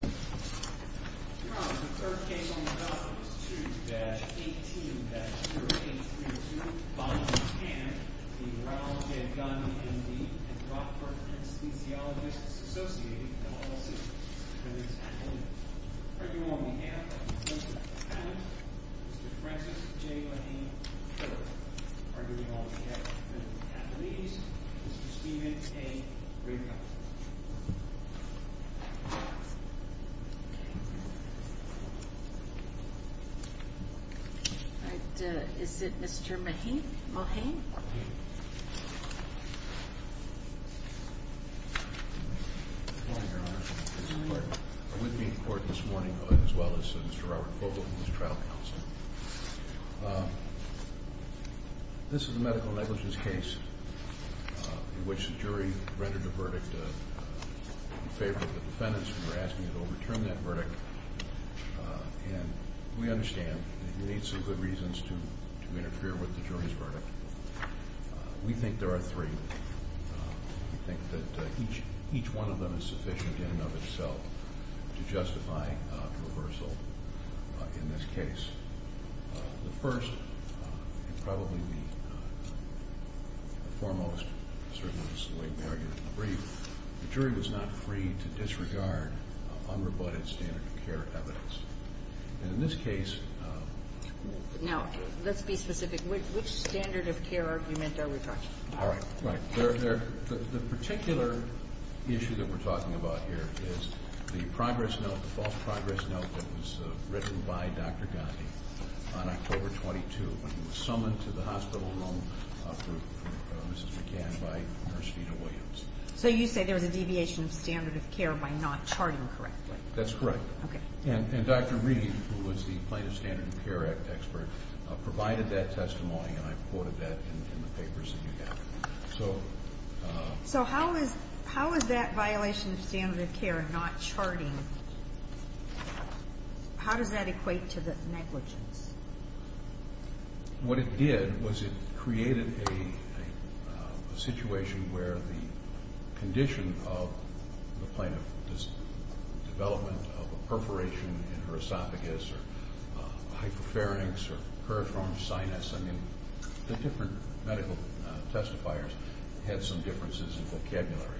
M.D. and Rockford Kinesiologists Associated, LLC, for the examination. Arguing on behalf of Mr. Allen, Mr. Francis J. Lahey III. Arguing on behalf of the attendees, Mr. Stephen A. Riegel. Arguing on behalf of the attendees, Mr. Robert Fogelman. Arguing on behalf of the attendees, Mr. Robert Fogelman. This is a medical negligence case in which the jury rendered the verdict in favor of the defendants who were asking to overturn that verdict. And we understand that you need some good reasons to interfere with the jury's verdict. We think there are three. We think that each one of them is sufficient in and of itself to justify reversal in this case. The first, and probably the foremost, certainly Ms. Lloyd-Merrigan, in the brief, the jury was not free to disregard unrebutted standard of care evidence. And in this case... Now, let's be specific. Which standard of care argument are we talking about? All right. The particular issue that we're talking about here is the progress note, the false progress note that was written by Dr. Gandhi on October 22 when he was summoned to the hospital room for Mrs. McCann by Nurse Vita Williams. So you say there was a deviation of standard of care by not charting correctly. That's correct. Okay. And Dr. Reed, who was the plaintiff's standard of care expert, provided that testimony, and I've quoted that in the papers that you have. So how is that violation of standard of care not charting? How does that equate to the negligence? What it did was it created a situation where the condition of the plaintiff, this development of a perforation in her esophagus or hyperpharynx or peripheral sinus, I mean, the different medical testifiers had some differences in vocabulary,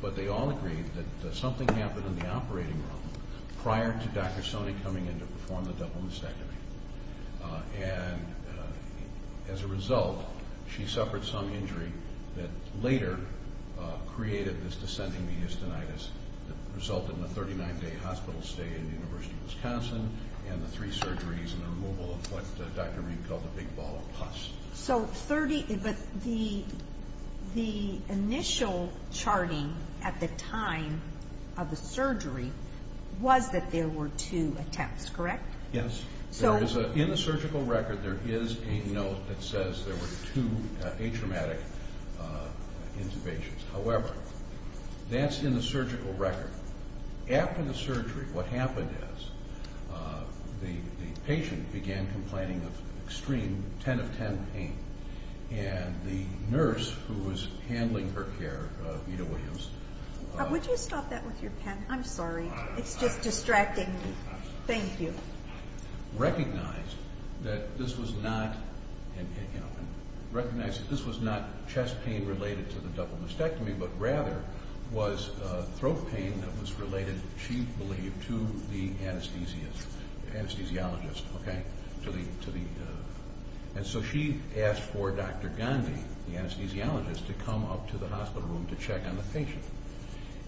but they all agreed that something happened in the operating room prior to Dr. Soni coming in to perform the double mastectomy. And as a result, she suffered some injury that later created this descending mediastinitis that resulted in a 39-day hospital stay in the University of Wisconsin and the three surgeries and the removal of what Dr. Reed called a big ball of pus. But the initial charting at the time of the surgery was that there were two attempts, correct? Yes. In the surgical record, there is a note that says there were two atraumatic intubations. However, that's in the surgical record. After the surgery, what happened is the patient began complaining of extreme 10 of 10 pain, and the nurse who was handling her care, Ida Williams- Would you stop that with your pen? I'm sorry. It's just distracting me. Thank you. Recognized that this was not chest pain related to the double mastectomy, but rather was throat pain that was related, she believed, to the anesthesiologist. And so she asked for Dr. Gandhi, the anesthesiologist, to come up to the hospital room to check on the patient.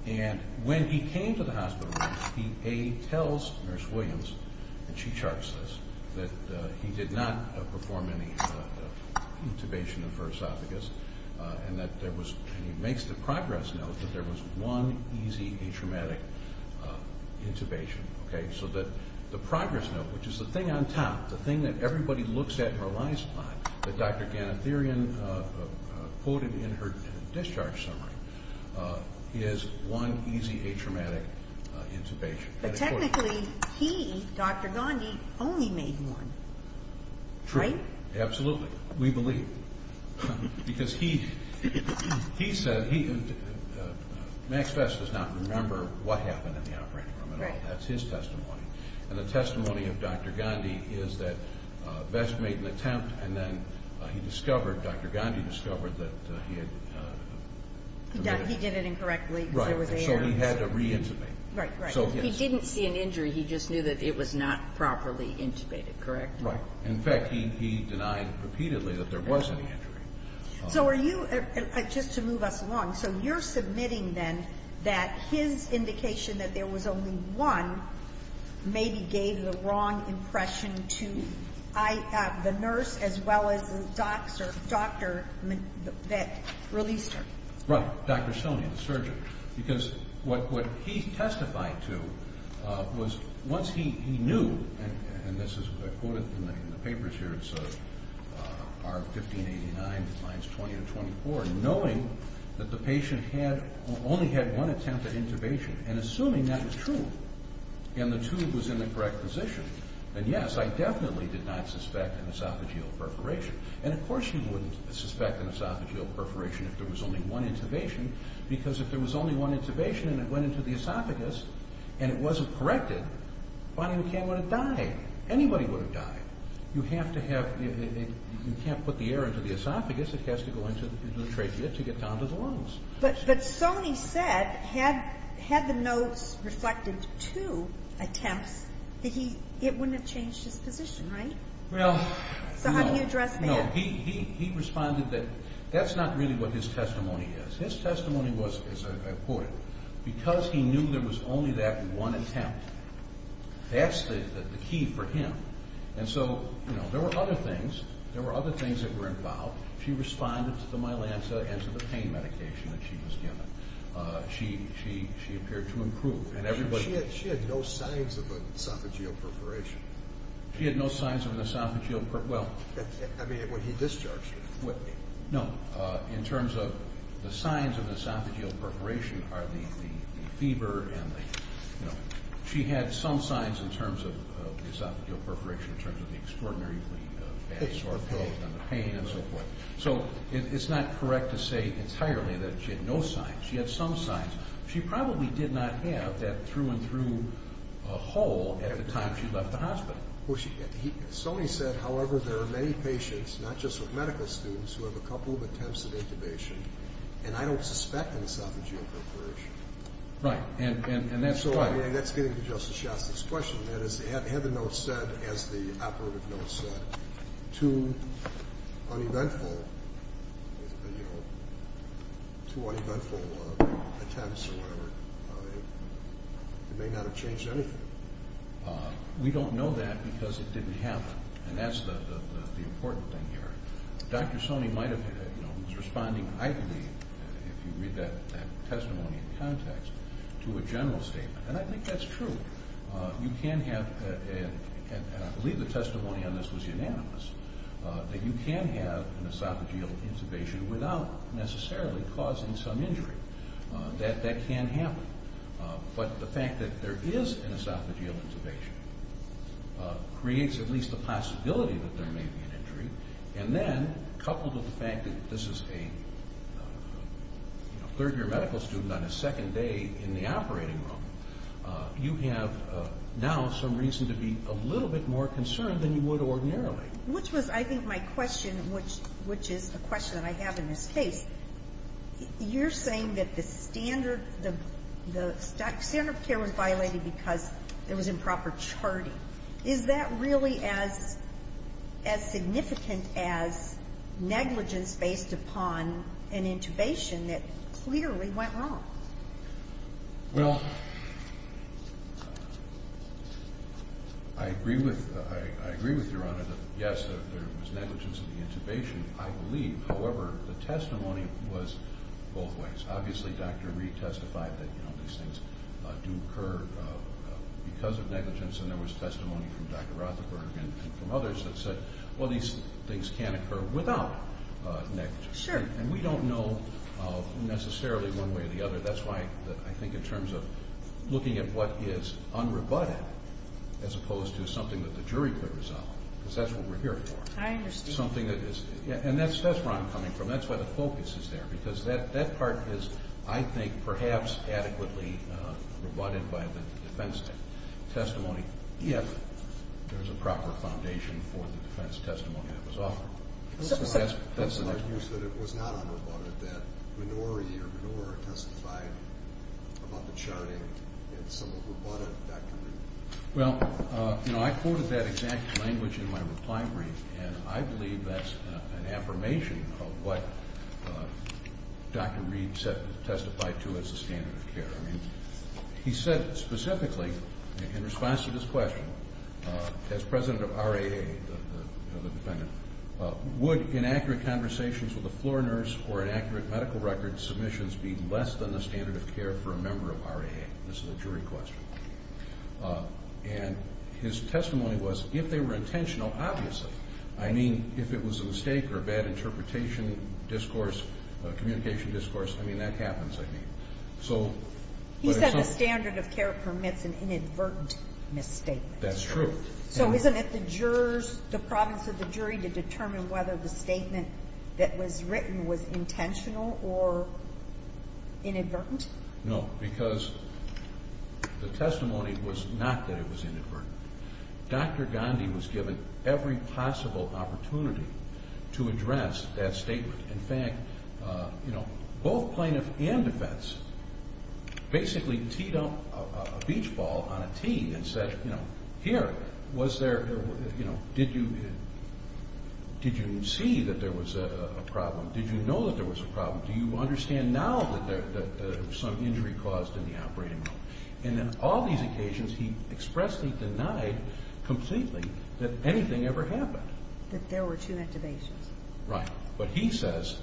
And when he came to the hospital room, he tells Nurse Williams, and she charts this, that he did not perform any intubation of her esophagus, and he makes the progress note that there was one easy atraumatic intubation. So the progress note, which is the thing on top, the thing that everybody looks at and relies on, that Dr. Ganatherian quoted in her discharge summary, is one easy atraumatic intubation. But technically, he, Dr. Gandhi, only made one. Right? True. Absolutely. We believe. Because he said, Max Vest does not remember what happened in the operating room at all. That's his testimony. And the testimony of Dr. Gandhi is that Vest made an attempt, and then he discovered, Dr. Gandhi discovered that he had- He did it incorrectly because there was a- Right. So he had to re-intubate. Right. Right. If he didn't see an injury, he just knew that it was not properly intubated. Correct? Right. In fact, he denied repeatedly that there was any injury. So are you, just to move us along, so you're submitting, then, that his indication that there was only one maybe gave the wrong impression to the nurse as well as the doctor that released her. Right. Dr. Sonia, the surgeon. Because what he testified to was once he knew, and this is what I quoted in the papers here, it's R1589-20-24, knowing that the patient had only had one attempt at intubation, and assuming that was true, and the tube was in the correct position, then yes, I definitely did not suspect an esophageal perforation. And of course you wouldn't suspect an esophageal perforation if there was only one intubation, because if there was only one intubation and it went into the esophagus, and it wasn't corrected, Bonnie McCann would have died. Anybody would have died. You have to have- You can't put the air into the esophagus. It has to go into the trachea to get down to the lungs. But Sonia said, had the notes reflected two attempts, that it wouldn't have changed his position, right? Well, no. So how do you address that? No, he responded that that's not really what his testimony is. His testimony was, as I quoted, because he knew there was only that one attempt, that's the key for him. And so, you know, there were other things. There were other things that were involved. She responded to the myelantha and to the pain medication that she was given. She appeared to improve. She had no signs of an esophageal perforation. She had no signs of an esophageal perforation. I mean, when he discharged her. No. In terms of the signs of an esophageal perforation are the fever and the, you know. She had some signs in terms of the esophageal perforation, in terms of the extraordinarily bad sore throat and the pain and so forth. So it's not correct to say entirely that she had no signs. She had some signs. She probably did not have that through-and-through hole at the time she left the hospital. Soni said, however, there are many patients, not just with medical students, who have a couple of attempts of intubation. And I don't suspect an esophageal perforation. Right. And that's why. And that's getting to Justice Shostak's question. That is, had the note said, as the operative note said, two uneventful, you know, two uneventful attempts or whatever, it may not have changed anything. We don't know that because it didn't happen. And that's the important thing here. Dr. Soni might have, you know, was responding idly, if you read that testimony in context, to a general statement. And I think that's true. You can have, and I believe the testimony on this was unanimous, that you can have an esophageal intubation without necessarily causing some injury. That can happen. But the fact that there is an esophageal intubation creates at least the possibility that there may be an injury. And then, coupled with the fact that this is a third-year medical student on a second day in the operating room, you have now some reason to be a little bit more concerned than you would ordinarily. Which was, I think, my question, which is the question that I have in this case. You're saying that the standard of care was violated because there was improper charting. Is that really as significant as negligence based upon an intubation that clearly went wrong? Well, I agree with Your Honor that, yes, there was negligence in the intubation, I believe. However, the testimony was both ways. Obviously, Dr. Reed testified that, you know, these things do occur because of negligence. And there was testimony from Dr. Rothenberg and from others that said, well, these things can occur without negligence. And we don't know necessarily one way or the other. That's why I think in terms of looking at what is unrebutted as opposed to something that the jury could resolve, because that's what we're here for. I understand. And that's where I'm coming from. That's why the focus is there, because that part is, I think, perhaps adequately rebutted by the defense testimony, if there's a proper foundation for the defense testimony that was offered. It was not unrebutted that Minority or Minor testified about the charting. It's somewhat rebutted, Dr. Reed. Well, you know, I quoted that exact language in my reply brief, and I believe that's an affirmation of what Dr. Reed testified to as the standard of care. I mean, he said specifically in response to this question, as president of RAA, the defendant, would inaccurate conversations with a floor nurse or inaccurate medical record submissions be less than the standard of care for a member of RAA? This is a jury question. And his testimony was, if they were intentional, obviously. I mean, if it was a mistake or a bad interpretation, communication discourse, I mean, that happens. He said the standard of care permits an inadvertent misstatement. That's true. So isn't it the province of the jury to determine whether the statement that was written was intentional or inadvertent? No, because the testimony was not that it was inadvertent. Dr. Gandhi was given every possible opportunity to address that statement. In fact, you know, both plaintiff and defense basically teed up a beach ball on a tee and said, you know, here, was there, you know, did you see that there was a problem? Did you know that there was a problem? Do you understand now that some injury caused in the operating room? And in all these occasions, he expressly denied completely that anything ever happened. That there were two activations. Right. But he says,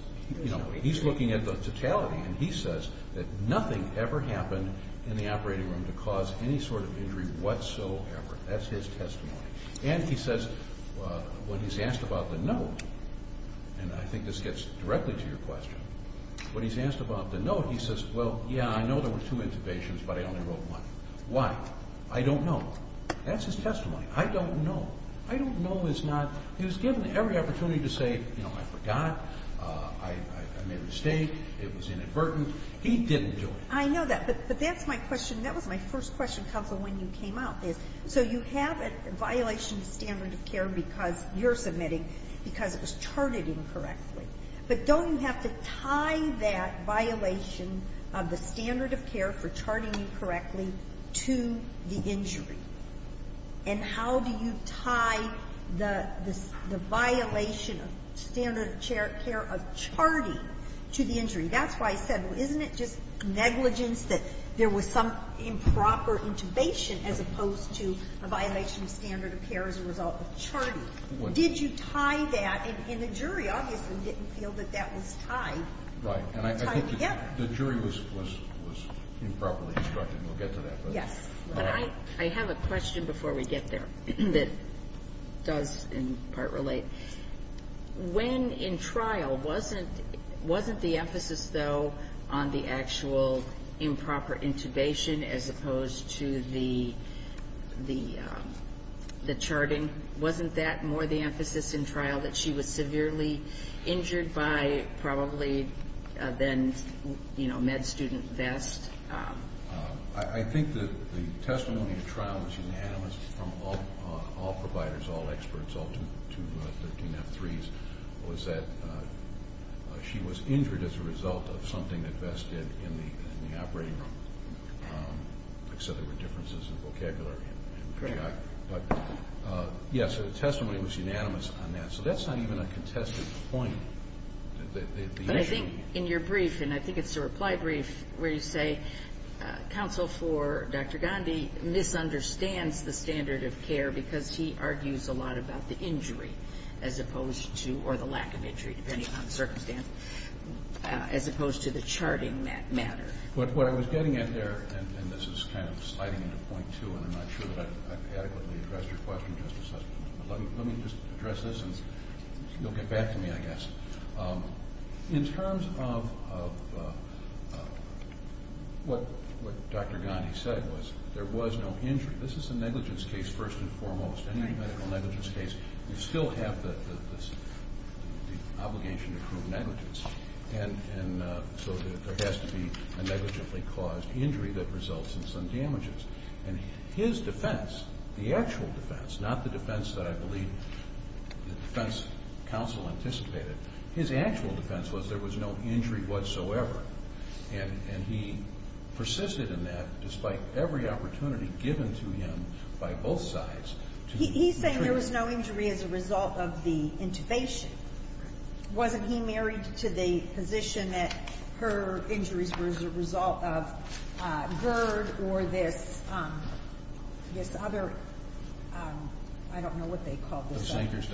you know, he's looking at the totality, and he says that nothing ever happened in the operating room to cause any sort of injury whatsoever. That's his testimony. And he says, when he's asked about the note, and I think this gets directly to your question, when he's asked about the note, he says, well, yeah, I know there were two interventions, but I only wrote one. Why? I don't know. That's his testimony. I don't know. I don't know is not he was given every opportunity to say, you know, I forgot. I made a mistake. It was inadvertent. He didn't do it. I know that, but that's my question. That was my first question, counsel, when you came out. So you have a violation of standard of care because you're submitting, because it was charted incorrectly. But don't you have to tie that violation of the standard of care for charting incorrectly to the injury? And how do you tie the violation of standard of care of charting to the injury? That's why I said, well, isn't it just negligence that there was some improper intubation as opposed to a violation of standard of care as a result of charting? Did you tie that? And the jury obviously didn't feel that that was tied. Right. And I think the jury was improperly instructed, and we'll get to that. Yes. But I have a question before we get there that does, in part, relate. When in trial, wasn't the emphasis, though, on the actual improper intubation as opposed to the charting? Wasn't that more the emphasis in trial, that she was severely injured by probably then, you know, med student vest? I think that the testimony in trial was unanimous from all providers, all experts, all 213F3s, was that she was injured as a result of something that Vest did in the operating room. Like I said, there were differences in vocabulary. But, yes, the testimony was unanimous on that. So that's not even a contested point. But I think in your brief, and I think it's a reply brief, where you say counsel for Dr. Gandhi misunderstands the standard of care because he argues a lot about the injury as opposed to, or the lack of injury, depending on the circumstance, as opposed to the charting matter. What I was getting at there, and this is kind of sliding into point two, and I'm not sure that I've adequately addressed your question, Justice Sussman, but let me just address this and you'll get back to me, I guess. In terms of what Dr. Gandhi said was there was no injury. This is a negligence case, first and foremost, any medical negligence case. You still have the obligation to prove negligence. And so there has to be a negligently caused injury that results in some damages. And his defense, the actual defense, not the defense that I believe the defense counsel anticipated, his actual defense was there was no injury whatsoever. And he persisted in that despite every opportunity given to him by both sides. He's saying there was no injury as a result of the intubation. Wasn't he married to the position that her injuries were as a result of GERD or this other, I don't know what they call this. The Zennickers.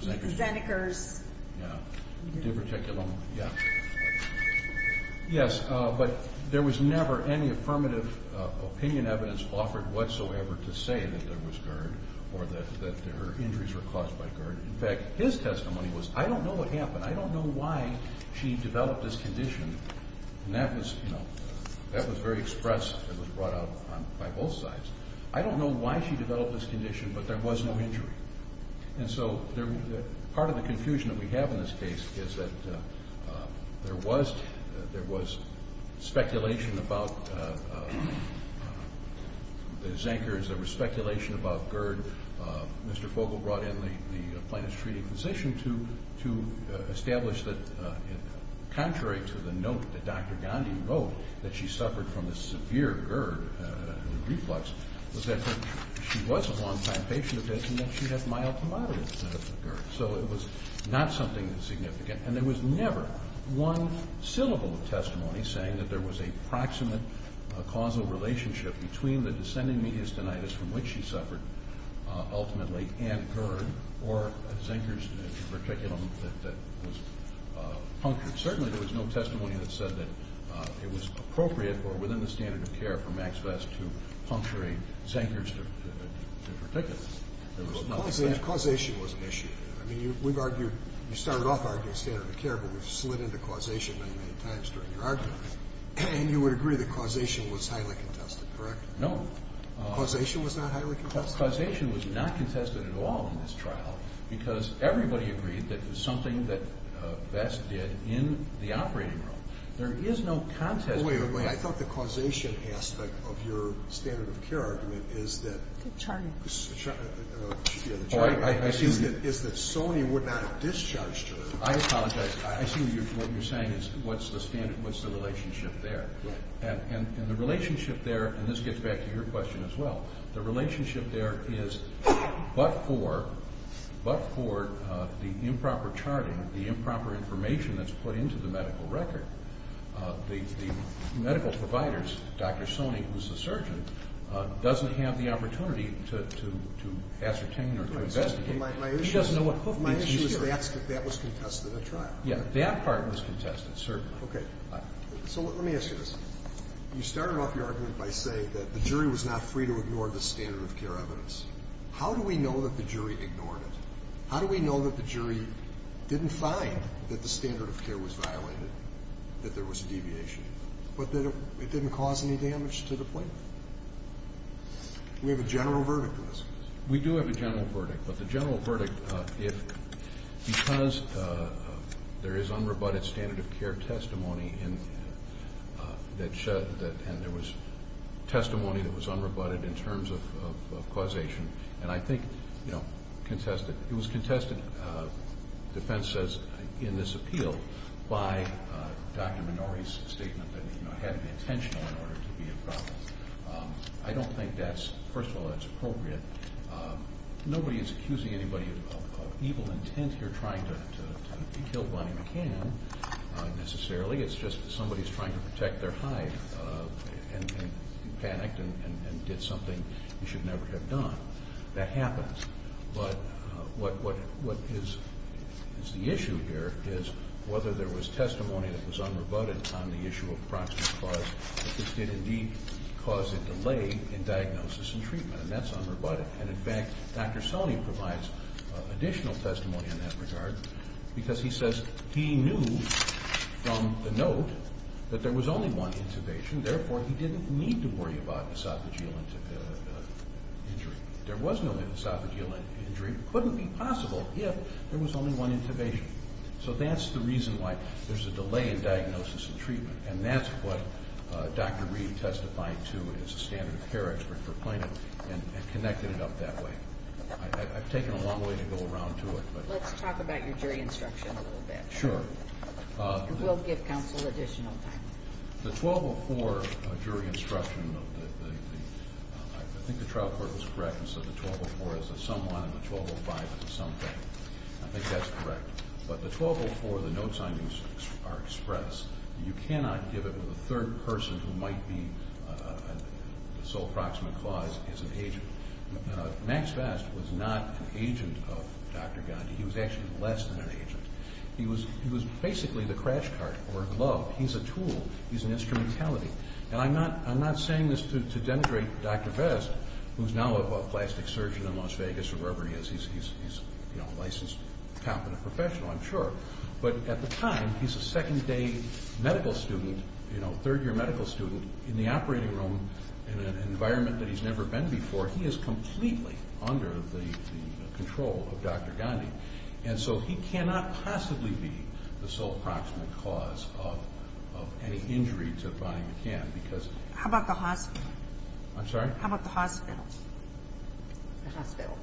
The Zennickers. Yeah, the diverticulum, yeah. Yes, but there was never any affirmative opinion evidence offered whatsoever to say that there was GERD or that her injuries were caused by GERD. In fact, his testimony was I don't know what happened. I don't know why she developed this condition. And that was, you know, that was very expressed and was brought out by both sides. I don't know why she developed this condition, but there was no injury. And so part of the confusion that we have in this case is that there was speculation about the Zennickers. There was speculation about GERD. Mr. Fogle brought in the plaintiff's treating physician to establish that contrary to the note that Dr. Gandhi wrote that she suffered from a severe GERD, a reflux, was that she was a long-time patient of his and that she had mild to moderate GERD. So it was not something significant. And there was never one syllable of testimony saying that there was a proximate causal relationship between the descending mediastinitis from which she suffered ultimately and GERD or Zennickers in particular that was punctured. Certainly there was no testimony that said that it was appropriate or within the standard of care for Max Vest to puncture a Zennickers in particular. Causation was an issue. I mean, we've argued, you started off arguing standard of care, but we've slid into causation many, many times during your argument. And you would agree that causation was highly contested, correct? No. Causation was not highly contested? Causation was not contested at all in this trial because everybody agreed that it was something that Vest did in the operating room. There is no contest. Wait a minute. I thought the causation aspect of your standard of care argument is that Sony would not have discharged her. I apologize. I see what you're saying is what's the relationship there. And the relationship there, and this gets back to your question as well, the relationship there is but for the improper charting, the improper information that's put into the medical record, the medical providers, Dr. Sony, who's the surgeon, My issue is that that was contested at trial. Yeah, that part was contested, certainly. Okay. So let me ask you this. You started off your argument by saying that the jury was not free to ignore the standard of care evidence. How do we know that the jury ignored it? How do we know that the jury didn't find that the standard of care was violated, that there was a deviation, but that it didn't cause any damage to the plaintiff? We have a general verdict on this. We do have a general verdict, but the general verdict, because there is unrebutted standard of care testimony and there was testimony that was unrebutted in terms of causation, and I think it was contested, defense says, in this appeal by Dr. Minori's statement that it had to be intentional in order to be a problem. I don't think that's, first of all, that's appropriate. Nobody is accusing anybody of evil intent here trying to kill Bonnie McCann necessarily. It's just somebody's trying to protect their hide and panicked and did something you should never have done. That happens. But what is the issue here is whether there was testimony that was unrebutted on the issue of proximate cause that this did indeed cause a delay in diagnosis and treatment, and that's unrebutted. And, in fact, Dr. Soni provides additional testimony in that regard because he says he knew from the note that there was only one intubation, therefore he didn't need to worry about esophageal injury. There was no esophageal injury. It couldn't be possible if there was only one intubation. So that's the reason why there's a delay in diagnosis and treatment, and that's what Dr. Reed testified to as a standard of care expert for Plano and connected it up that way. I've taken a long way to go around to it. Let's talk about your jury instruction a little bit. Sure. And we'll give counsel additional time. The 1204 jury instruction, I think the trial court was correct and said the 1204 is a someone and the 1205 is a something. I think that's correct. But the 1204, the notes on these are express. You cannot give it with a third person who might be the sole proximate clause as an agent. Max Vest was not an agent of Dr. Gandhi. He was actually less than an agent. He was basically the crash cart or a glove. He's a tool. He's an instrumentality. And I'm not saying this to denigrate Dr. Vest, who's now a plastic surgeon in Las Vegas or wherever he is. He's a licensed, competent professional, I'm sure. But at the time, he's a second-day medical student, third-year medical student in the operating room in an environment that he's never been before. He is completely under the control of Dr. Gandhi. And so he cannot possibly be the sole proximate clause of any injury to Bonnie McCann. How about the hospital? I'm sorry? How about the hospital? The hospital.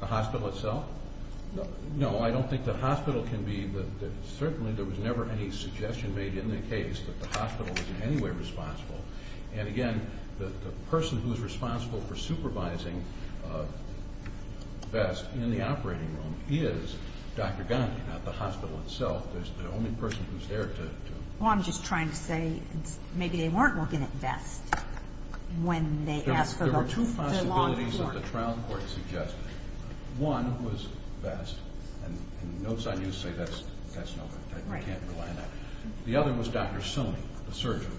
The hospital itself? No, I don't think the hospital can be. Certainly there was never any suggestion made in the case that the hospital was in any way responsible. And, again, the person who's responsible for supervising Vest in the operating room is Dr. Gandhi, not the hospital itself. It's the only person who's there to do it. Well, I'm just trying to say maybe they weren't looking at Vest when they asked for the long form. There were two possibilities that the trial court suggested. One was Vest, and notes on you say that's no good. We can't rely on that. The other was Dr. Soni, the surgeon,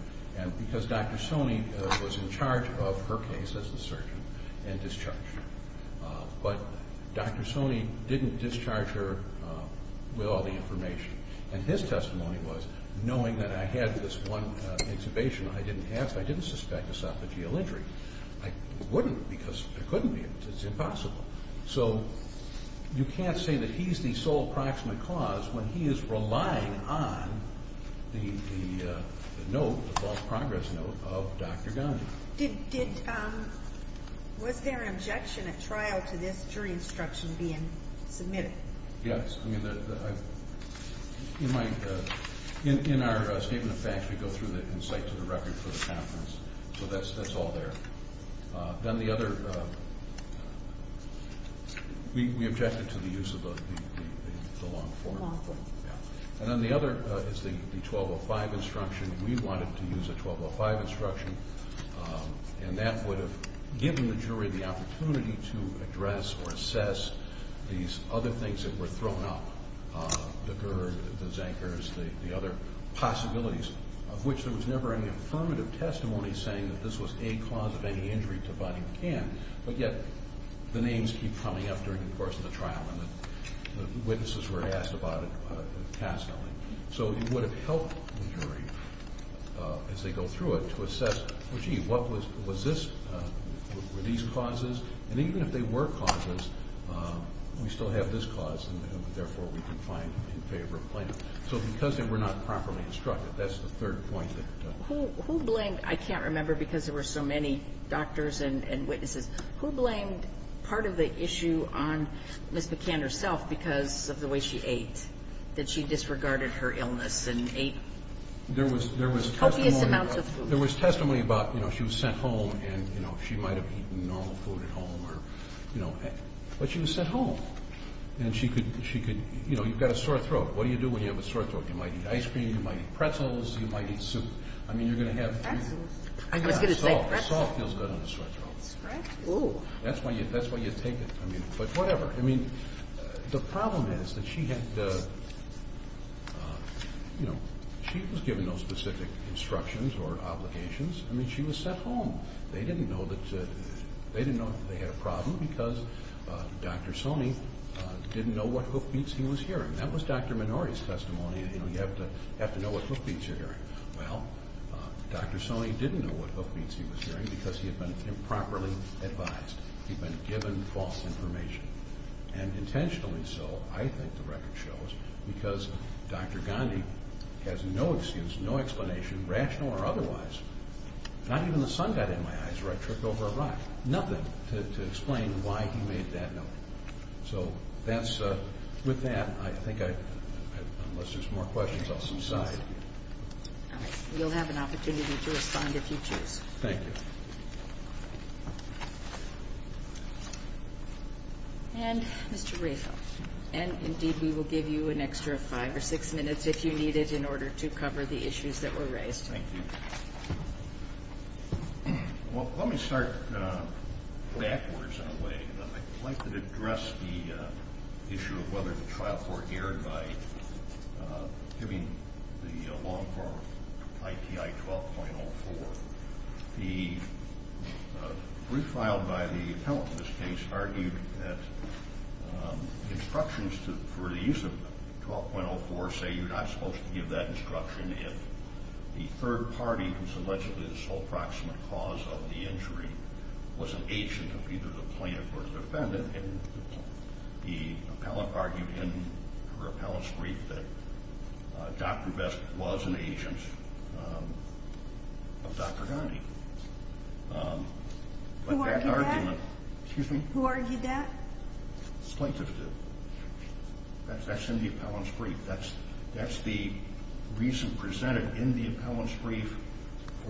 because Dr. Soni was in charge of her case as the surgeon and discharged her. But Dr. Soni didn't discharge her with all the information. And his testimony was, knowing that I had this one exhibition, I didn't ask, I didn't suspect a sophageal injury. I wouldn't because there couldn't be. It's impossible. So you can't say that he's the sole proximate cause when he is relying on the note, the false progress note, of Dr. Gandhi. Was there an objection at trial to this jury instruction being submitted? Yes. In our statement of facts, we go through the insight to the record for the conference. So that's all there. Then the other, we objected to the use of the long form. And then the other is the 1205 instruction. We wanted to use a 1205 instruction, and that would have given the jury the opportunity to address or assess these other things that were thrown out, the GERD, the Zankers, the other possibilities, of which there was never any affirmative testimony saying that this was a cause of any injury to Bonnie McCann, but yet the names keep coming up during the course of the trial and the witnesses were asked about it castly. So it would have helped the jury, as they go through it, to assess, well, gee, what was this? Were these causes? And even if they were causes, we still have this cause, and therefore we can find in favor of Plano. So because they were not properly instructed, that's the third point. Who blamed, I can't remember because there were so many doctors and witnesses, who blamed part of the issue on Ms. McCann herself because of the way she ate, that she disregarded her illness and ate copious amounts of food? There was testimony about, you know, she was sent home and, you know, she might have eaten normal food at home or, you know, but she was sent home and she could, you know, you've got a sore throat. What do you do when you have a sore throat? You might eat ice cream, you might eat pretzels, you might eat soup. I mean, you're going to have- Pretzels? I was going to say pretzels. Salt feels good on a sore throat. Oh. That's why you take it. But whatever. I mean, the problem is that she had, you know, she was given no specific instructions or obligations. I mean, she was sent home. They didn't know that they had a problem because Dr. Soni didn't know what hoofbeats he was hearing. That was Dr. Minori's testimony, you know, you have to know what hoofbeats you're hearing. Well, Dr. Soni didn't know what hoofbeats he was hearing because he had been improperly advised. He'd been given false information. And intentionally so, I think the record shows, because Dr. Gandhi has no excuse, no explanation, rational or otherwise. Not even the sun got in my eyes or I tripped over a rock. Nothing to explain why he made that note. So with that, I think I, unless there's more questions, I'll subside. All right. You'll have an opportunity to respond if you choose. Thank you. And Mr. Rayfield. And, indeed, we will give you an extra five or six minutes if you need it in order to cover the issues that were raised. Thank you. Well, let me start backwards in a way. I'd like to address the issue of whether the trial court erred by giving the long-form ITI 12.04. The brief filed by the appellant in this case argued that instructions for the use of 12.04 say you're not supposed to give that instruction if the third party, who's allegedly the sole proximate cause of the injury, was an agent of either the plaintiff or the defendant. And the appellant argued in her appellant's brief that Dr. Vest was an agent of Dr. Gandhi. Who argued that? Excuse me? Who argued that? That's in the appellant's brief. That's the reason presented in the appellant's brief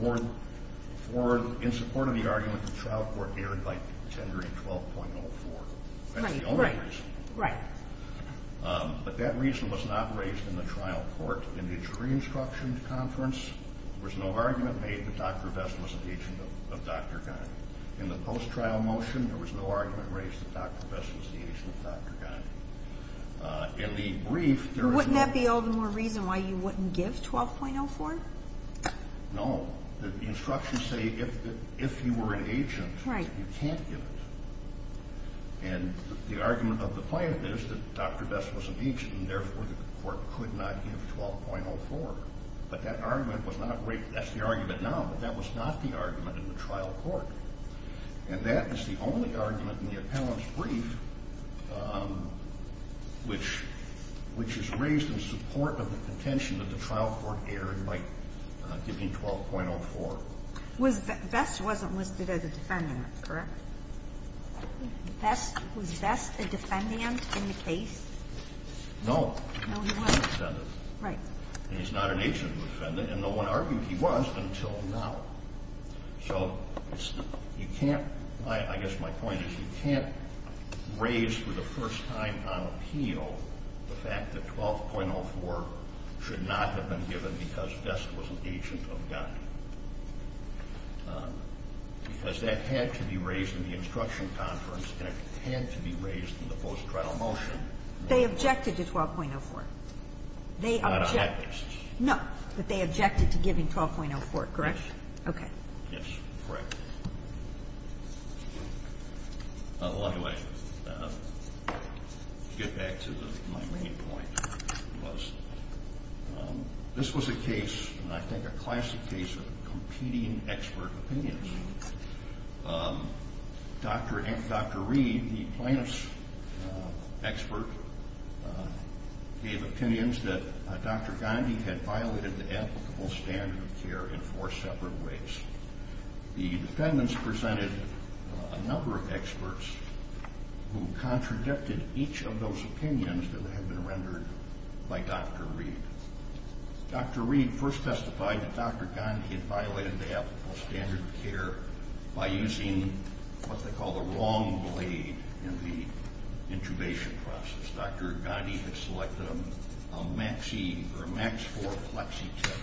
in support of the argument that the trial court erred by tendering 12.04. That's the only reason. Right. But that reason was not raised in the trial court. In the injury instruction conference, there was no argument made that Dr. Vest was an agent of Dr. Gandhi. In the post-trial motion, there was no argument raised that Dr. Vest was an agent of Dr. Gandhi. In the brief, there is no... Wouldn't that be all the more reason why you wouldn't give 12.04? No. The instructions say if you were an agent, you can't give it. And the argument of the plaintiff is that Dr. Vest was an agent and therefore the court could not give 12.04. But that argument was not raised. That's the argument now, but that was not the argument in the trial court. And that is the only argument in the appellant's brief which is raised in support of the contention that the trial court erred by giving 12.04. Vest wasn't listed as a defendant, correct? Was Vest a defendant in the case? No. No, he wasn't. He was not a defendant. Right. And he's not an agent of a defendant, and no one argued he was until now. So you can't, I guess my point is you can't raise for the first time on appeal the fact that 12.04 should not have been given because Vest was an agent of Gandhi. Because that had to be raised in the instruction conference and it had to be raised in the post-trial motion. They objected to 12.04. Not on that basis. No, but they objected to giving 12.04, correct? Okay. Yes, correct. Well, anyway, to get back to my main point, this was a case, and I think a classic case, of competing expert opinions. Dr. Reed, the plaintiff's expert, gave opinions that Dr. Gandhi had violated the applicable standard of care in four separate ways. The defendants presented a number of experts who contradicted each of those opinions that had been rendered by Dr. Reed. Dr. Reed first testified that Dr. Gandhi had violated the applicable standard of care by using what they call the wrong blade in the intubation process. Dr. Gandhi had selected a max-E or a max-4 plexi tip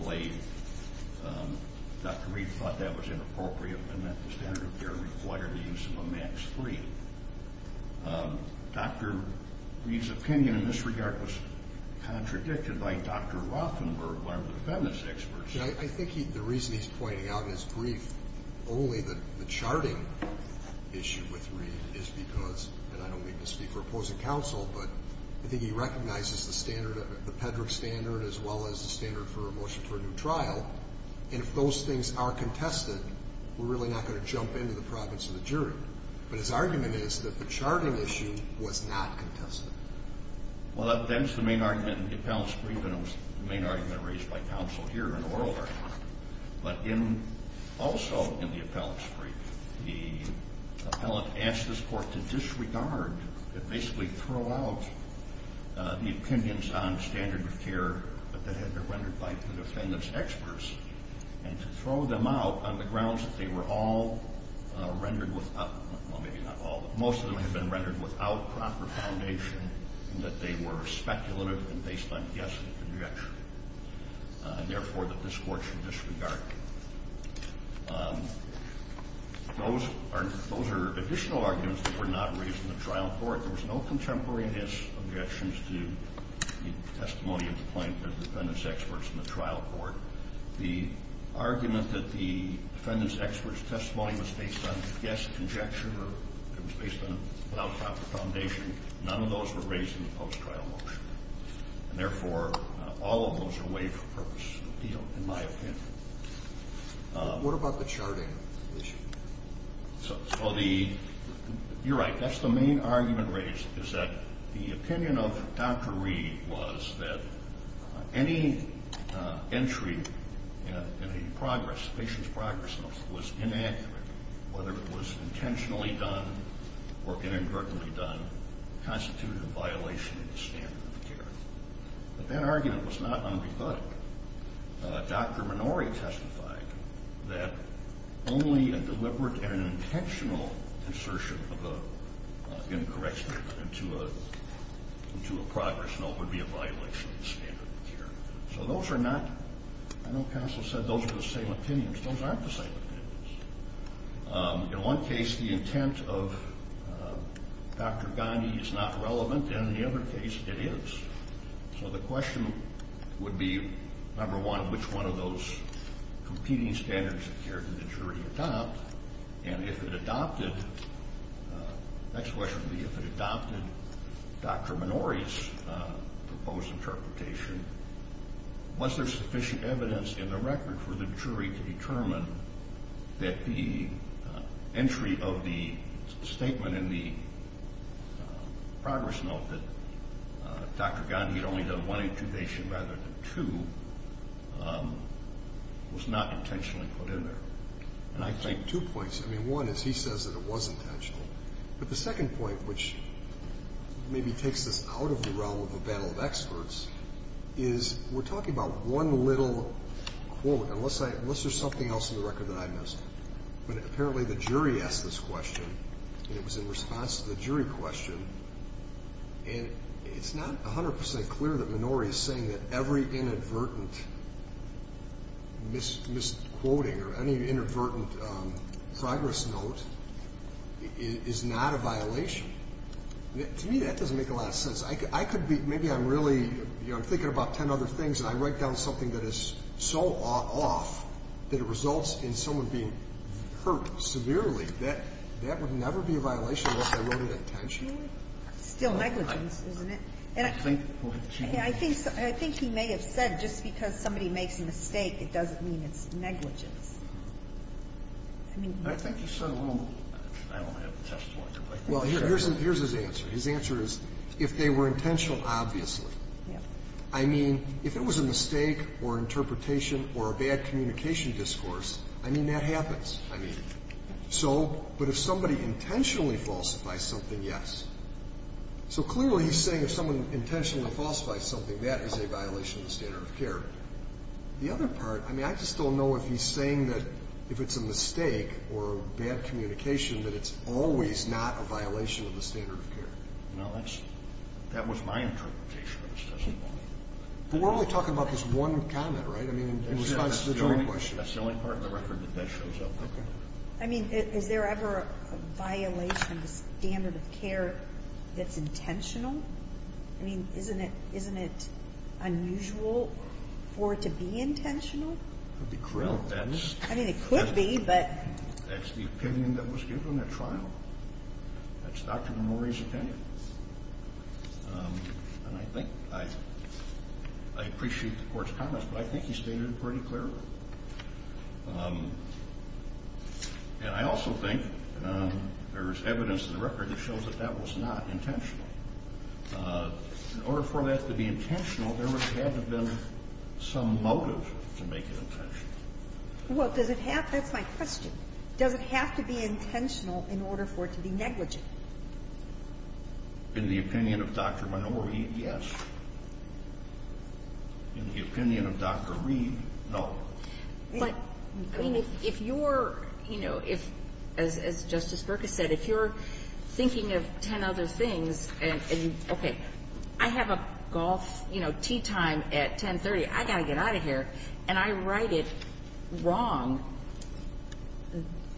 blade. Dr. Reed thought that was inappropriate and that the standard of care required the use of a max-3. Dr. Reed's opinion in this regard was contradicted by Dr. Rothenberg, one of the defendants' experts. I think the reason he's pointing out in his brief only the charting issue with Reed is because, and I don't mean to speak for opposing counsel, but I think he recognizes the standard, the PEDRC standard, as well as the standard for a motion for a new trial, and if those things are contested, we're really not going to jump into the province of the jury. But his argument is that the charting issue was not contested. Well, that was the main argument in the defendant's brief, and it was the main argument raised by counsel here in the oral argument. But also in the appellant's brief, the appellant asked this court to disregard, to basically throw out the opinions on standard of care that had been rendered by the defendant's experts and to throw them out on the grounds that they were all rendered without, well, maybe not all, but most of them had been rendered without proper foundation and that they were speculative and based on guess and conjecture, and therefore that this court should disregard them. Those are additional arguments that were not raised in the trial court. There was no contemporary guess, objections to the testimony of the plaintiff's defendants experts in the trial court. The argument that the defendant's experts' testimony was based on guess and conjecture or it was based on without proper foundation, none of those were raised in the post-trial motion, and therefore all of those are waived for purpose of appeal, in my opinion. What about the charting issue? You're right. That's the main argument raised, is that the opinion of Dr. Reed was that any entry in a progress, patient's progress notes, was inaccurate, whether it was intentionally done or inadvertently done, constituted a violation of the standard of care. But that argument was not unrebutted. Dr. Minori testified that only a deliberate and an intentional insertion of an incorrect statement into a progress note would be a violation of the standard of care. So those are not, I know counsel said those are the same opinions. Those aren't the same opinions. In one case, the intent of Dr. Gandhi is not relevant. In the other case, it is. So the question would be, number one, which one of those competing standards of care did the jury adopt? And if it adopted, the next question would be, if it adopted Dr. Minori's proposed interpretation, was there sufficient evidence in the record for the jury to determine that the entry of the statement in the progress note that Dr. Gandhi had only done one intubation rather than two was not intentionally put in there? And I take two points. I mean, one is he says that it was intentional. But the second point, which maybe takes us out of the realm of a battle of experts, is we're talking about one little quote, unless there's something else in the record that I missed. But apparently the jury asked this question, and it was in response to the jury question. And it's not 100% clear that Minori is saying that every inadvertent misquoting or any inadvertent progress note is not a violation. To me, that doesn't make a lot of sense. Maybe I'm really thinking about 10 other things, and I write down something that is so off that it results in someone being hurt severely. That would never be a violation unless I wrote it intentionally. It's still negligence, isn't it? I think he may have said just because somebody makes a mistake, it doesn't mean it's negligence. I think he said a little. I don't have a testimony. Well, here's his answer. His answer is, if they were intentional, obviously. I mean, if it was a mistake or interpretation or a bad communication discourse, I mean, that happens. But if somebody intentionally falsifies something, yes. So clearly he's saying if someone intentionally falsifies something, that is a violation of the standard of care. The other part, I mean, I just don't know if he's saying that if it's a mistake or bad communication that it's always not a violation of the standard of care. No, that was my interpretation of this testimony. But we're only talking about this one comment, right? I mean, in response to the joint question. That's the only part of the record that that shows up. I mean, is there ever a violation of the standard of care that's intentional? I mean, isn't it unusual for it to be intentional? That would be correct. I mean, it could be, but. That's the opinion that was given at trial. That's Dr. Memori's opinion. And I think I appreciate the Court's comments, but I think he stated it pretty clearly. And I also think there's evidence in the record that shows that that was not intentional. In order for that to be intentional, there would have to have been some motive to make it intentional. Well, does it have? That's my question. Does it have to be intentional in order for it to be negligent? In the opinion of Dr. Memori, yes. In the opinion of Dr. Reed, no. But, I mean, if you're, you know, if, as Justice Berkus said, if you're thinking of 10 other things, and, okay, I have a golf, you know, tee time at 1030. I got to get out of here. And I write it wrong.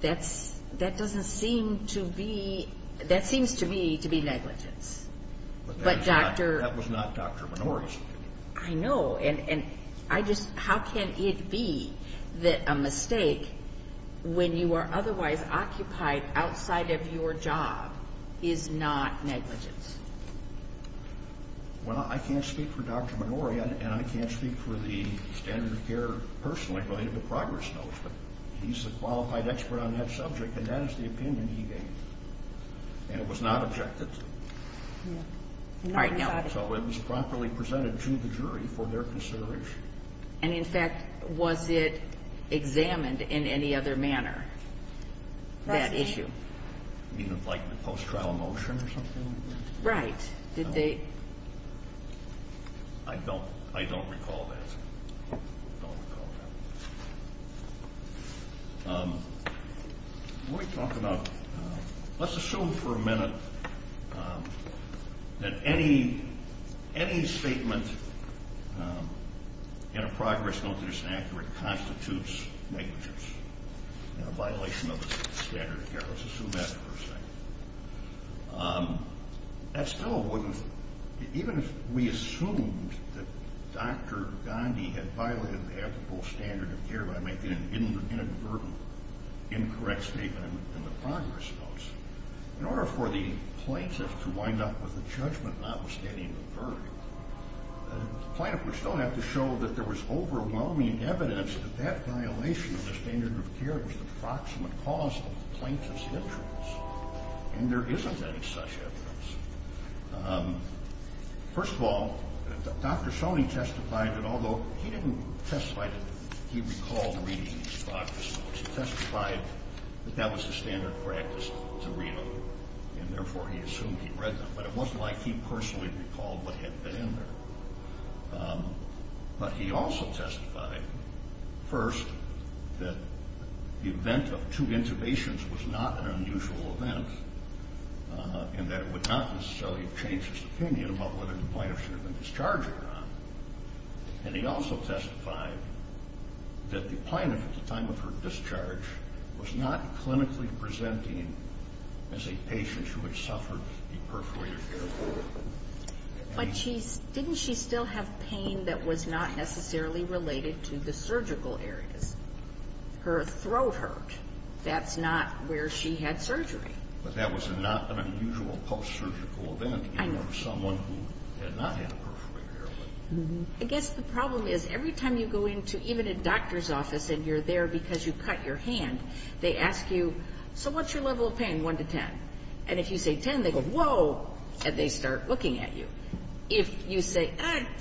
That's, that doesn't seem to be, that seems to me to be negligence. But that was not Dr. Memori's opinion. I know. And I just, how can it be that a mistake when you are otherwise occupied outside of your job is not negligent? Well, I can't speak for Dr. Memori, and I can't speak for the standard of care personally related to progress notes. But he's a qualified expert on that subject, and that is the opinion he gave. And it was not objected to. All right, no. So it was properly presented to the jury for their consideration. And, in fact, was it examined in any other manner, that issue? You mean like the post-trial motion or something? Right. Did they? No. I don't recall that. I don't recall that. Let me talk about, let's assume for a minute that any statement in a progress note that isn't accurate constitutes negligence and a violation of the standard of care. Let's assume that for a second. That still wouldn't, even if we assumed that Dr. Gandhi had violated the ethical standard of care by making an inadvertent incorrect statement in the progress notes, in order for the plaintiff to wind up with a judgment notwithstanding the verdict, the plaintiff would still have to show that there was overwhelming evidence that that violation of the standard of care was the proximate cause of the plaintiff's injuries. And there isn't any such evidence. First of all, Dr. Shoney testified that although he didn't testify that he recalled reading these progress notes, he testified that that was the standard practice to read them, and therefore he assumed he read them. But it wasn't like he personally recalled what had been in there. But he also testified, first, that the event of two intubations was not an unusual event and that it would not necessarily have changed his opinion about whether the plaintiff should have been discharged or not. And he also testified that the plaintiff at the time of her discharge was not clinically presenting as a patient who had suffered perforated care. But didn't she still have pain that was not necessarily related to the surgical areas? Her throat hurt. That's not where she had surgery. But that was not an unusual post-surgical event even for someone who had not had perforated care. I guess the problem is every time you go into even a doctor's office and you're there because you cut your hand, they ask you, so what's your level of pain, 1 to 10? And if you say 10, they go, whoa, and they start looking at you. If you say,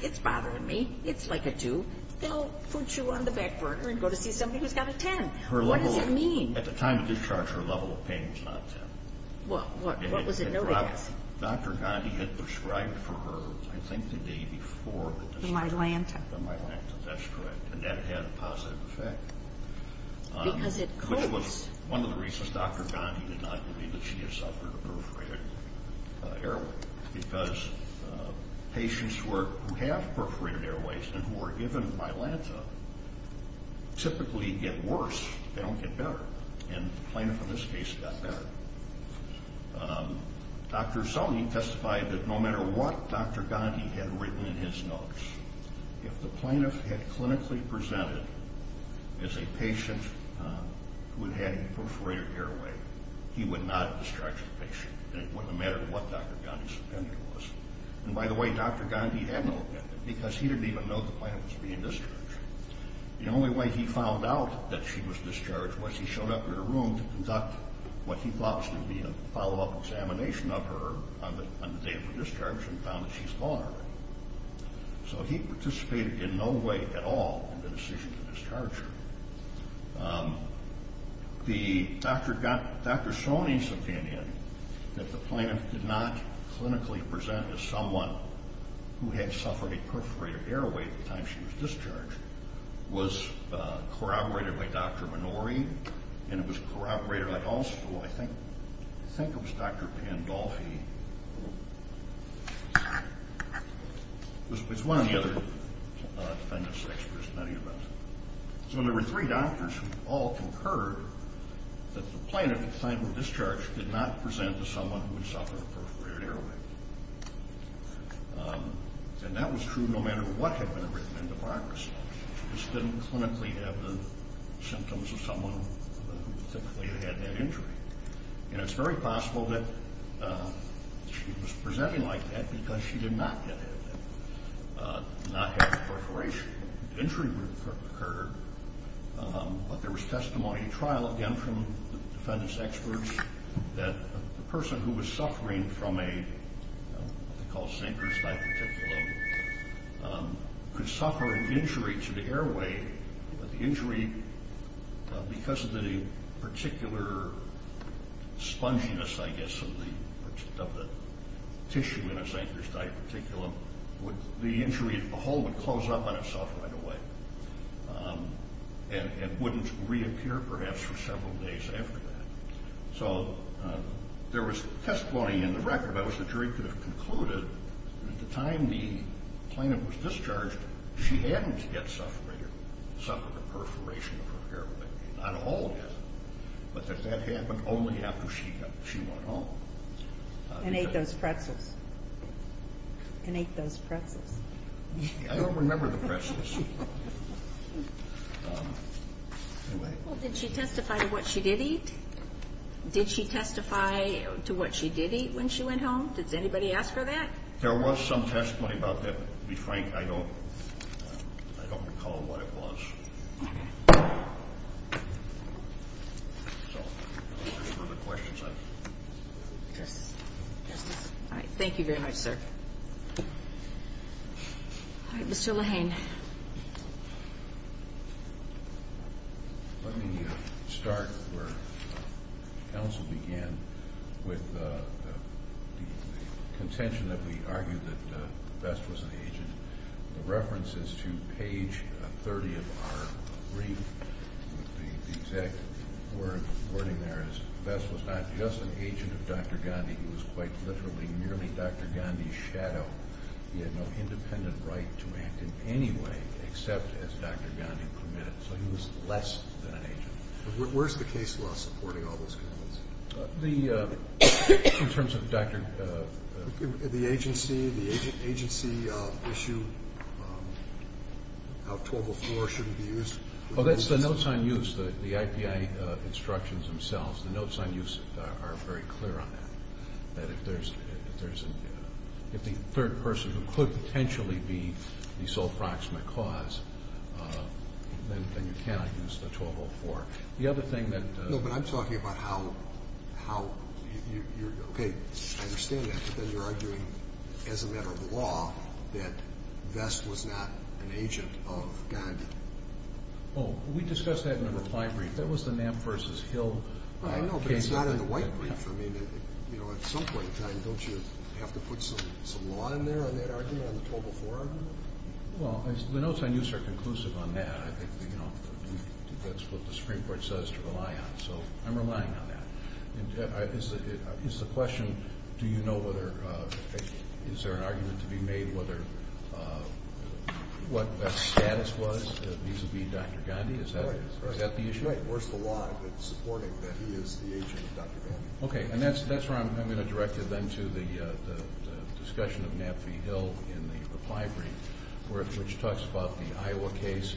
it's bothering me, it's like a 2, they'll put you on the back burner and go to see somebody who's got a 10. What does it mean? At the time of discharge, her level of pain was not 10. What was it? Dr. Gandhi had prescribed for her, I think, the day before the discharge. The myelanthus. The myelanthus, that's correct. And that had a positive effect. Because it cools. It was one of the reasons Dr. Gandhi did not believe that she had suffered a perforated airway. Because patients who have perforated airways and who are given myelanthus typically get worse. They don't get better. And the plaintiff in this case got better. Dr. Zellney testified that no matter what Dr. Gandhi had written in his notes, if the plaintiff had clinically presented as a patient who had had a perforated airway, he would not have discharged the patient, no matter what Dr. Gandhi's opinion was. And by the way, Dr. Gandhi had no opinion, because he didn't even know the plaintiff was being discharged. The only way he found out that she was discharged was he showed up in her room to conduct what he thought was going to be a follow-up examination of her on the day of her discharge and found that she's gone already. So he participated in no way at all in the decision to discharge her. Dr. Zellney's opinion that the plaintiff did not clinically present as someone who had suffered a perforated airway at the time she was discharged was corroborated by Dr. Minori, and it was corroborated also, I think, I think it was Dr. Pandolfi, who was one of the other defendants' experts. So there were three doctors who all concurred that the plaintiff at the time of discharge did not present as someone who had suffered a perforated airway. And that was true no matter what had been written in the progress notes. She just didn't clinically have the symptoms of someone who typically had had that injury. And it's very possible that she was presenting like that because she did not have perforation. The injury would have occurred, but there was testimony at trial, again from the defendant's experts, that the person who was suffering from what they call a synchrocyte reticulum could suffer an injury to the airway, but the injury, because of the particular sponginess, I guess, of the tissue in a synchrocyte reticulum, the injury as a whole would close up on itself right away and wouldn't reappear perhaps for several days after that. So there was testimony in the record. That was the jury could have concluded that at the time the plaintiff was discharged, she hadn't suffered a perforation of her airway. Not all had, but that that happened only after she went home. And ate those pretzels. And ate those pretzels. I don't remember the pretzels. Well, did she testify to what she did eat? Did she testify to what she did eat when she went home? Did anybody ask her that? There was some testimony about that. To be frank, I don't recall what it was. All right. Thank you very much, sir. All right. Mr. Lahane. Let me start where counsel began with the contention that we argued that Vest was an agent. The reference is to page 30 of our brief. The exact wording there is Vest was not just an agent of Dr. Gandhi. He was quite literally merely Dr. Gandhi's shadow. He had no independent right to act in any way except as Dr. Gandhi permitted. So he was less than an agent. Where's the case law supporting all those comments? In terms of Dr. The agency, the agency issue, how 204 shouldn't be used. Oh, that's the notes on use, the IPI instructions themselves. The notes on use are very clear on that. That if there's a third person who could potentially be the sole proximate cause, then you cannot use the 204. The other thing that No, but I'm talking about how you're, okay, I understand that, but then you're arguing as a matter of law that Vest was not an agent of Gandhi. Oh, we discussed that in the reply brief. That was the Knapp v. Hill case. It's not in the white brief. I mean, at some point in time, don't you have to put some law in there on that argument, on the 204 argument? Well, the notes on use are conclusive on that. I think that's what the Supreme Court says to rely on, so I'm relying on that. Is the question, do you know whether, is there an argument to be made whether what Vest's status was vis-a-vis Dr. Gandhi? Is that the issue? Right. Where's the law supporting that he is the agent of Dr. Gandhi? Okay, and that's where I'm going to direct you then to the discussion of Knapp v. Hill in the reply brief, which talks about the Iowa case,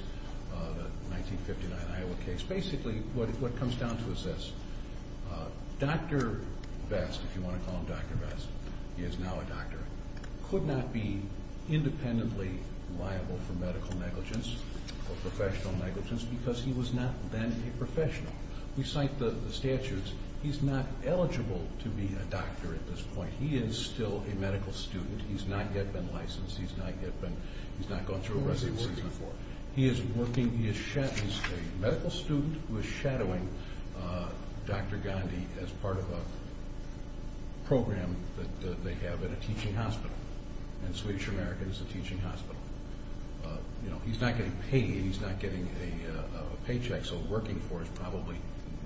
the 1959 Iowa case. Basically, what it comes down to is this. Dr. Vest, if you want to call him Dr. Vest, he is now a doctor, could not be independently liable for medical negligence or professional negligence because he was not then a professional. We cite the statutes. He's not eligible to be a doctor at this point. He is still a medical student. He's not yet been licensed. He's not yet been, he's not gone through a residency before. Who is he working for? He is working, he is a medical student who is shadowing Dr. Gandhi as part of a program that they have at a teaching hospital, and Swedish American is a teaching hospital. He's not getting paid. He's not getting a paycheck, so working for is probably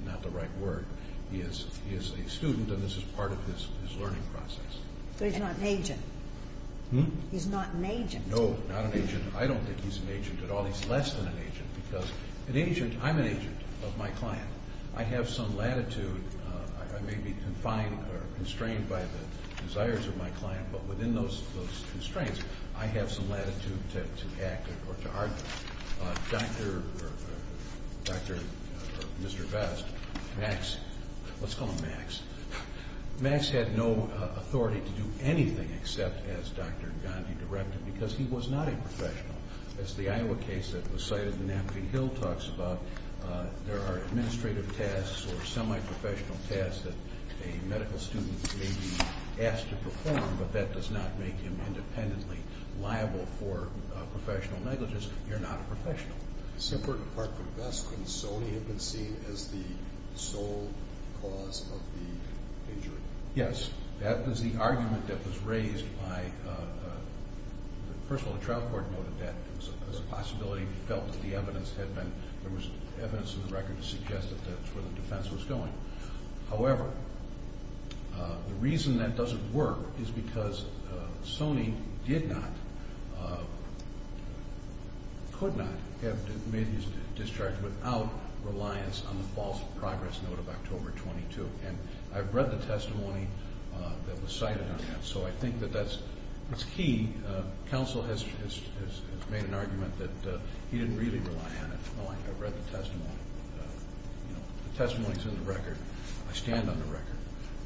not the right word. He is a student, and this is part of his learning process. But he's not an agent. He's not an agent. No, not an agent. I don't think he's an agent at all. He's less than an agent because an agent, I'm an agent of my client. I have some latitude. I may be confined or constrained by the desires of my client, but within those constraints, I have some latitude to act or to argue. Dr. or Mr. Best, Max, let's call him Max, Max had no authority to do anything except as Dr. Gandhi directed because he was not a professional. As the Iowa case that was cited in the Napkin Hill talks about, there are administrative tasks or semi-professional tasks that a medical student may be asked to perform, but that does not make him independently liable for professional negligence. You're not a professional. Superintendent Clarkford Best, couldn't Sony have been seen as the sole cause of the injury? Yes. That was the argument that was raised by, first of all, the trial court noted that as a possibility. We felt that the evidence had been, there was evidence in the record to suggest that that's where the defense was going. However, the reason that doesn't work is because Sony did not, could not have made his discharge without reliance on the false progress note of October 22, and I've read the testimony that was cited on that, so I think that that's key. Counsel has made an argument that he didn't really rely on it. I've read the testimony. The testimony is in the record. I stand on the record.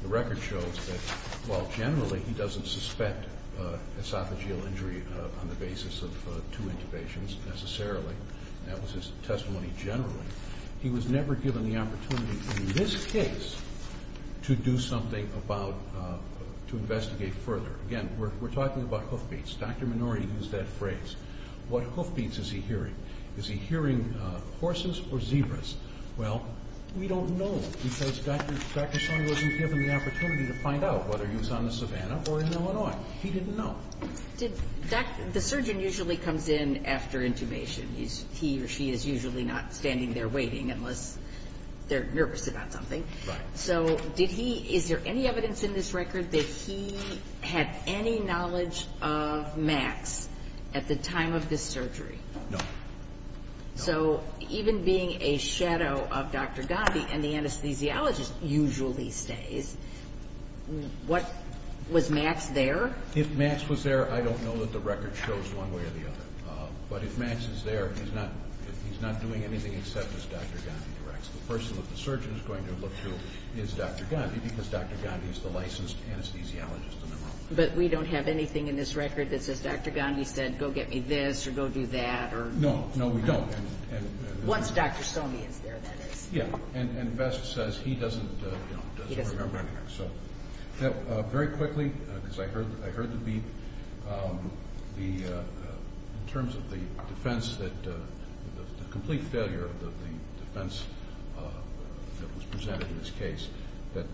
The record shows that while generally he doesn't suspect esophageal injury on the basis of two intubations necessarily, and that was his testimony generally, he was never given the opportunity in this case to do something about, to investigate further. Again, we're talking about hoofbeats. Dr. Minori used that phrase. What hoofbeats is he hearing? Is he hearing horses or zebras? Well, we don't know because Dr. Sony wasn't given the opportunity to find out whether he was on the savanna or in Illinois. He didn't know. The surgeon usually comes in after intubation. He or she is usually not standing there waiting unless they're nervous about something. Right. So did he, is there any evidence in this record that he had any knowledge of Max at the time of this surgery? No. So even being a shadow of Dr. Gandhi and the anesthesiologist usually stays, was Max there? If Max was there, I don't know that the record shows one way or the other. But if Max is there, he's not doing anything except as Dr. Gandhi directs. The person that the surgeon is going to look to is Dr. Gandhi because Dr. Gandhi is the licensed anesthesiologist in the room. But we don't have anything in this record that says Dr. Gandhi said, go get me this or go do that. No, we don't. Once Dr. Sony is there, that is. Yeah, and Vest says he doesn't remember anything. Very quickly, because I heard the beep, in terms of the defense, the complete failure of the defense that was presented in this case, that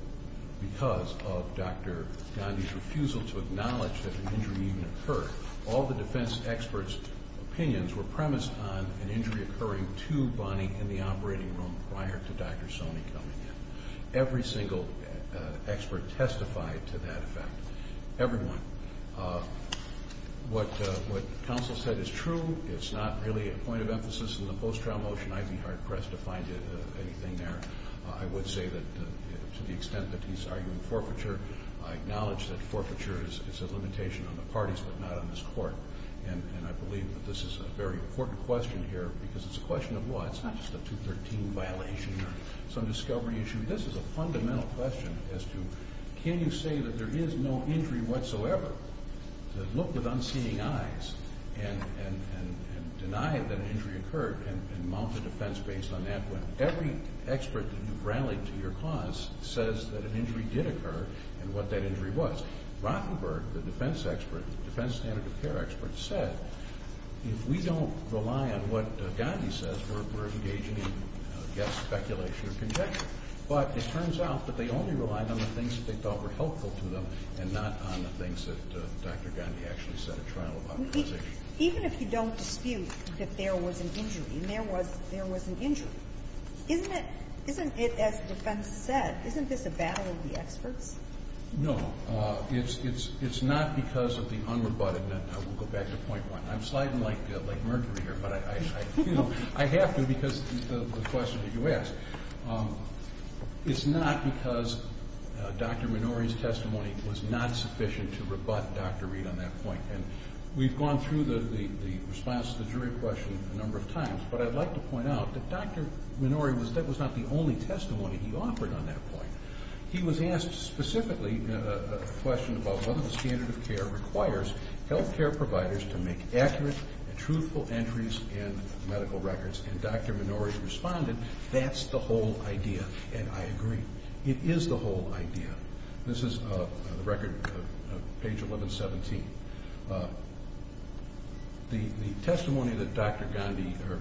because of Dr. Gandhi's refusal to acknowledge that an injury even occurred, all the defense experts' opinions were premised on an injury occurring to Bonnie in the operating room prior to Dr. Sony coming in. Every single expert testified to that effect. Everyone. What counsel said is true. It's not really a point of emphasis in the post-trial motion. I'd be hard-pressed to find anything there. I would say that to the extent that he's arguing forfeiture, I acknowledge that forfeiture is a limitation on the parties but not on this court. And I believe that this is a very important question here because it's a question of law. It's not just a 213 violation or some discovery issue. This is a fundamental question as to can you say that there is no injury whatsoever to look with unseeing eyes and deny that an injury occurred and mount a defense based on that when every expert that you've rallied to your cause says that an injury did occur and what that injury was. Rottenberg, the defense expert, the defense standard of care expert, said if we don't rely on what Gandhi says, we're engaging in speculation or conjecture. But it turns out that they only relied on the things that they thought were helpful to them and not on the things that Dr. Gandhi actually said at trial about the position. Even if you don't dispute that there was an injury and there was an injury, isn't it, as the defense said, isn't this a battle of the experts? No. It's not because of the unrebuttedness. I will go back to point one. I'm sliding like Mercury here. But I have to because of the question that you asked. It's not because Dr. Minori's testimony was not sufficient to rebut Dr. Reid on that point. And we've gone through the response to the jury question a number of times. But I'd like to point out that Dr. Minori was not the only testimony he offered on that point. He was asked specifically a question about whether the standard of care requires health care providers to make accurate and truthful entries in medical records. And Dr. Minori responded, that's the whole idea, and I agree. It is the whole idea. This is the record, page 1117. The testimony that Dr. Minori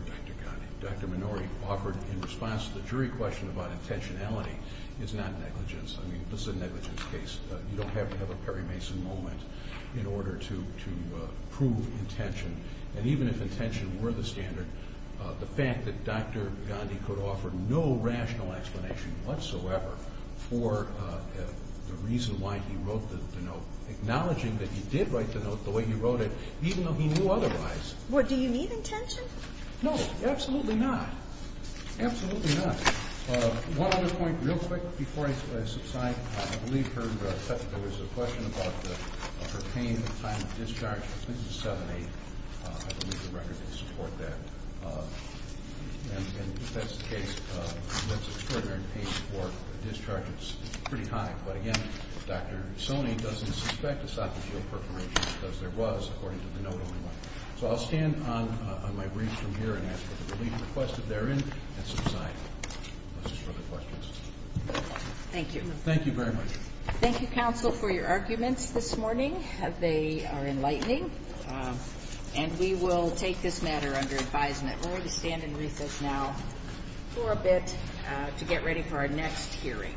offered in response to the jury question about intentionality is not negligence. I mean, this is a negligence case. You don't have to have a Perry Mason moment in order to prove intention. And even if intention were the standard, the fact that Dr. Gandhi could offer no rational explanation whatsoever for the reason why he wrote the note, acknowledging that he did write the note the way he wrote it, even though he knew otherwise. Do you need intention? No, absolutely not. Absolutely not. One other point real quick before I subside. I believe there was a question about her pain at the time of discharge. This is 7-8. I believe the record will support that. And if that's the case, that's extraordinary pain for a discharge that's pretty high. But, again, Dr. Soni doesn't suspect esophageal perforation because there was, according to the note only. So I'll stand on my brief from here and ask for the relief requested therein and subside. Unless there's further questions. Thank you. Thank you very much. Thank you, counsel, for your arguments this morning. They are enlightening. And we will take this matter under advisement. We're going to stand and recess now for a bit to get ready for our next hearing.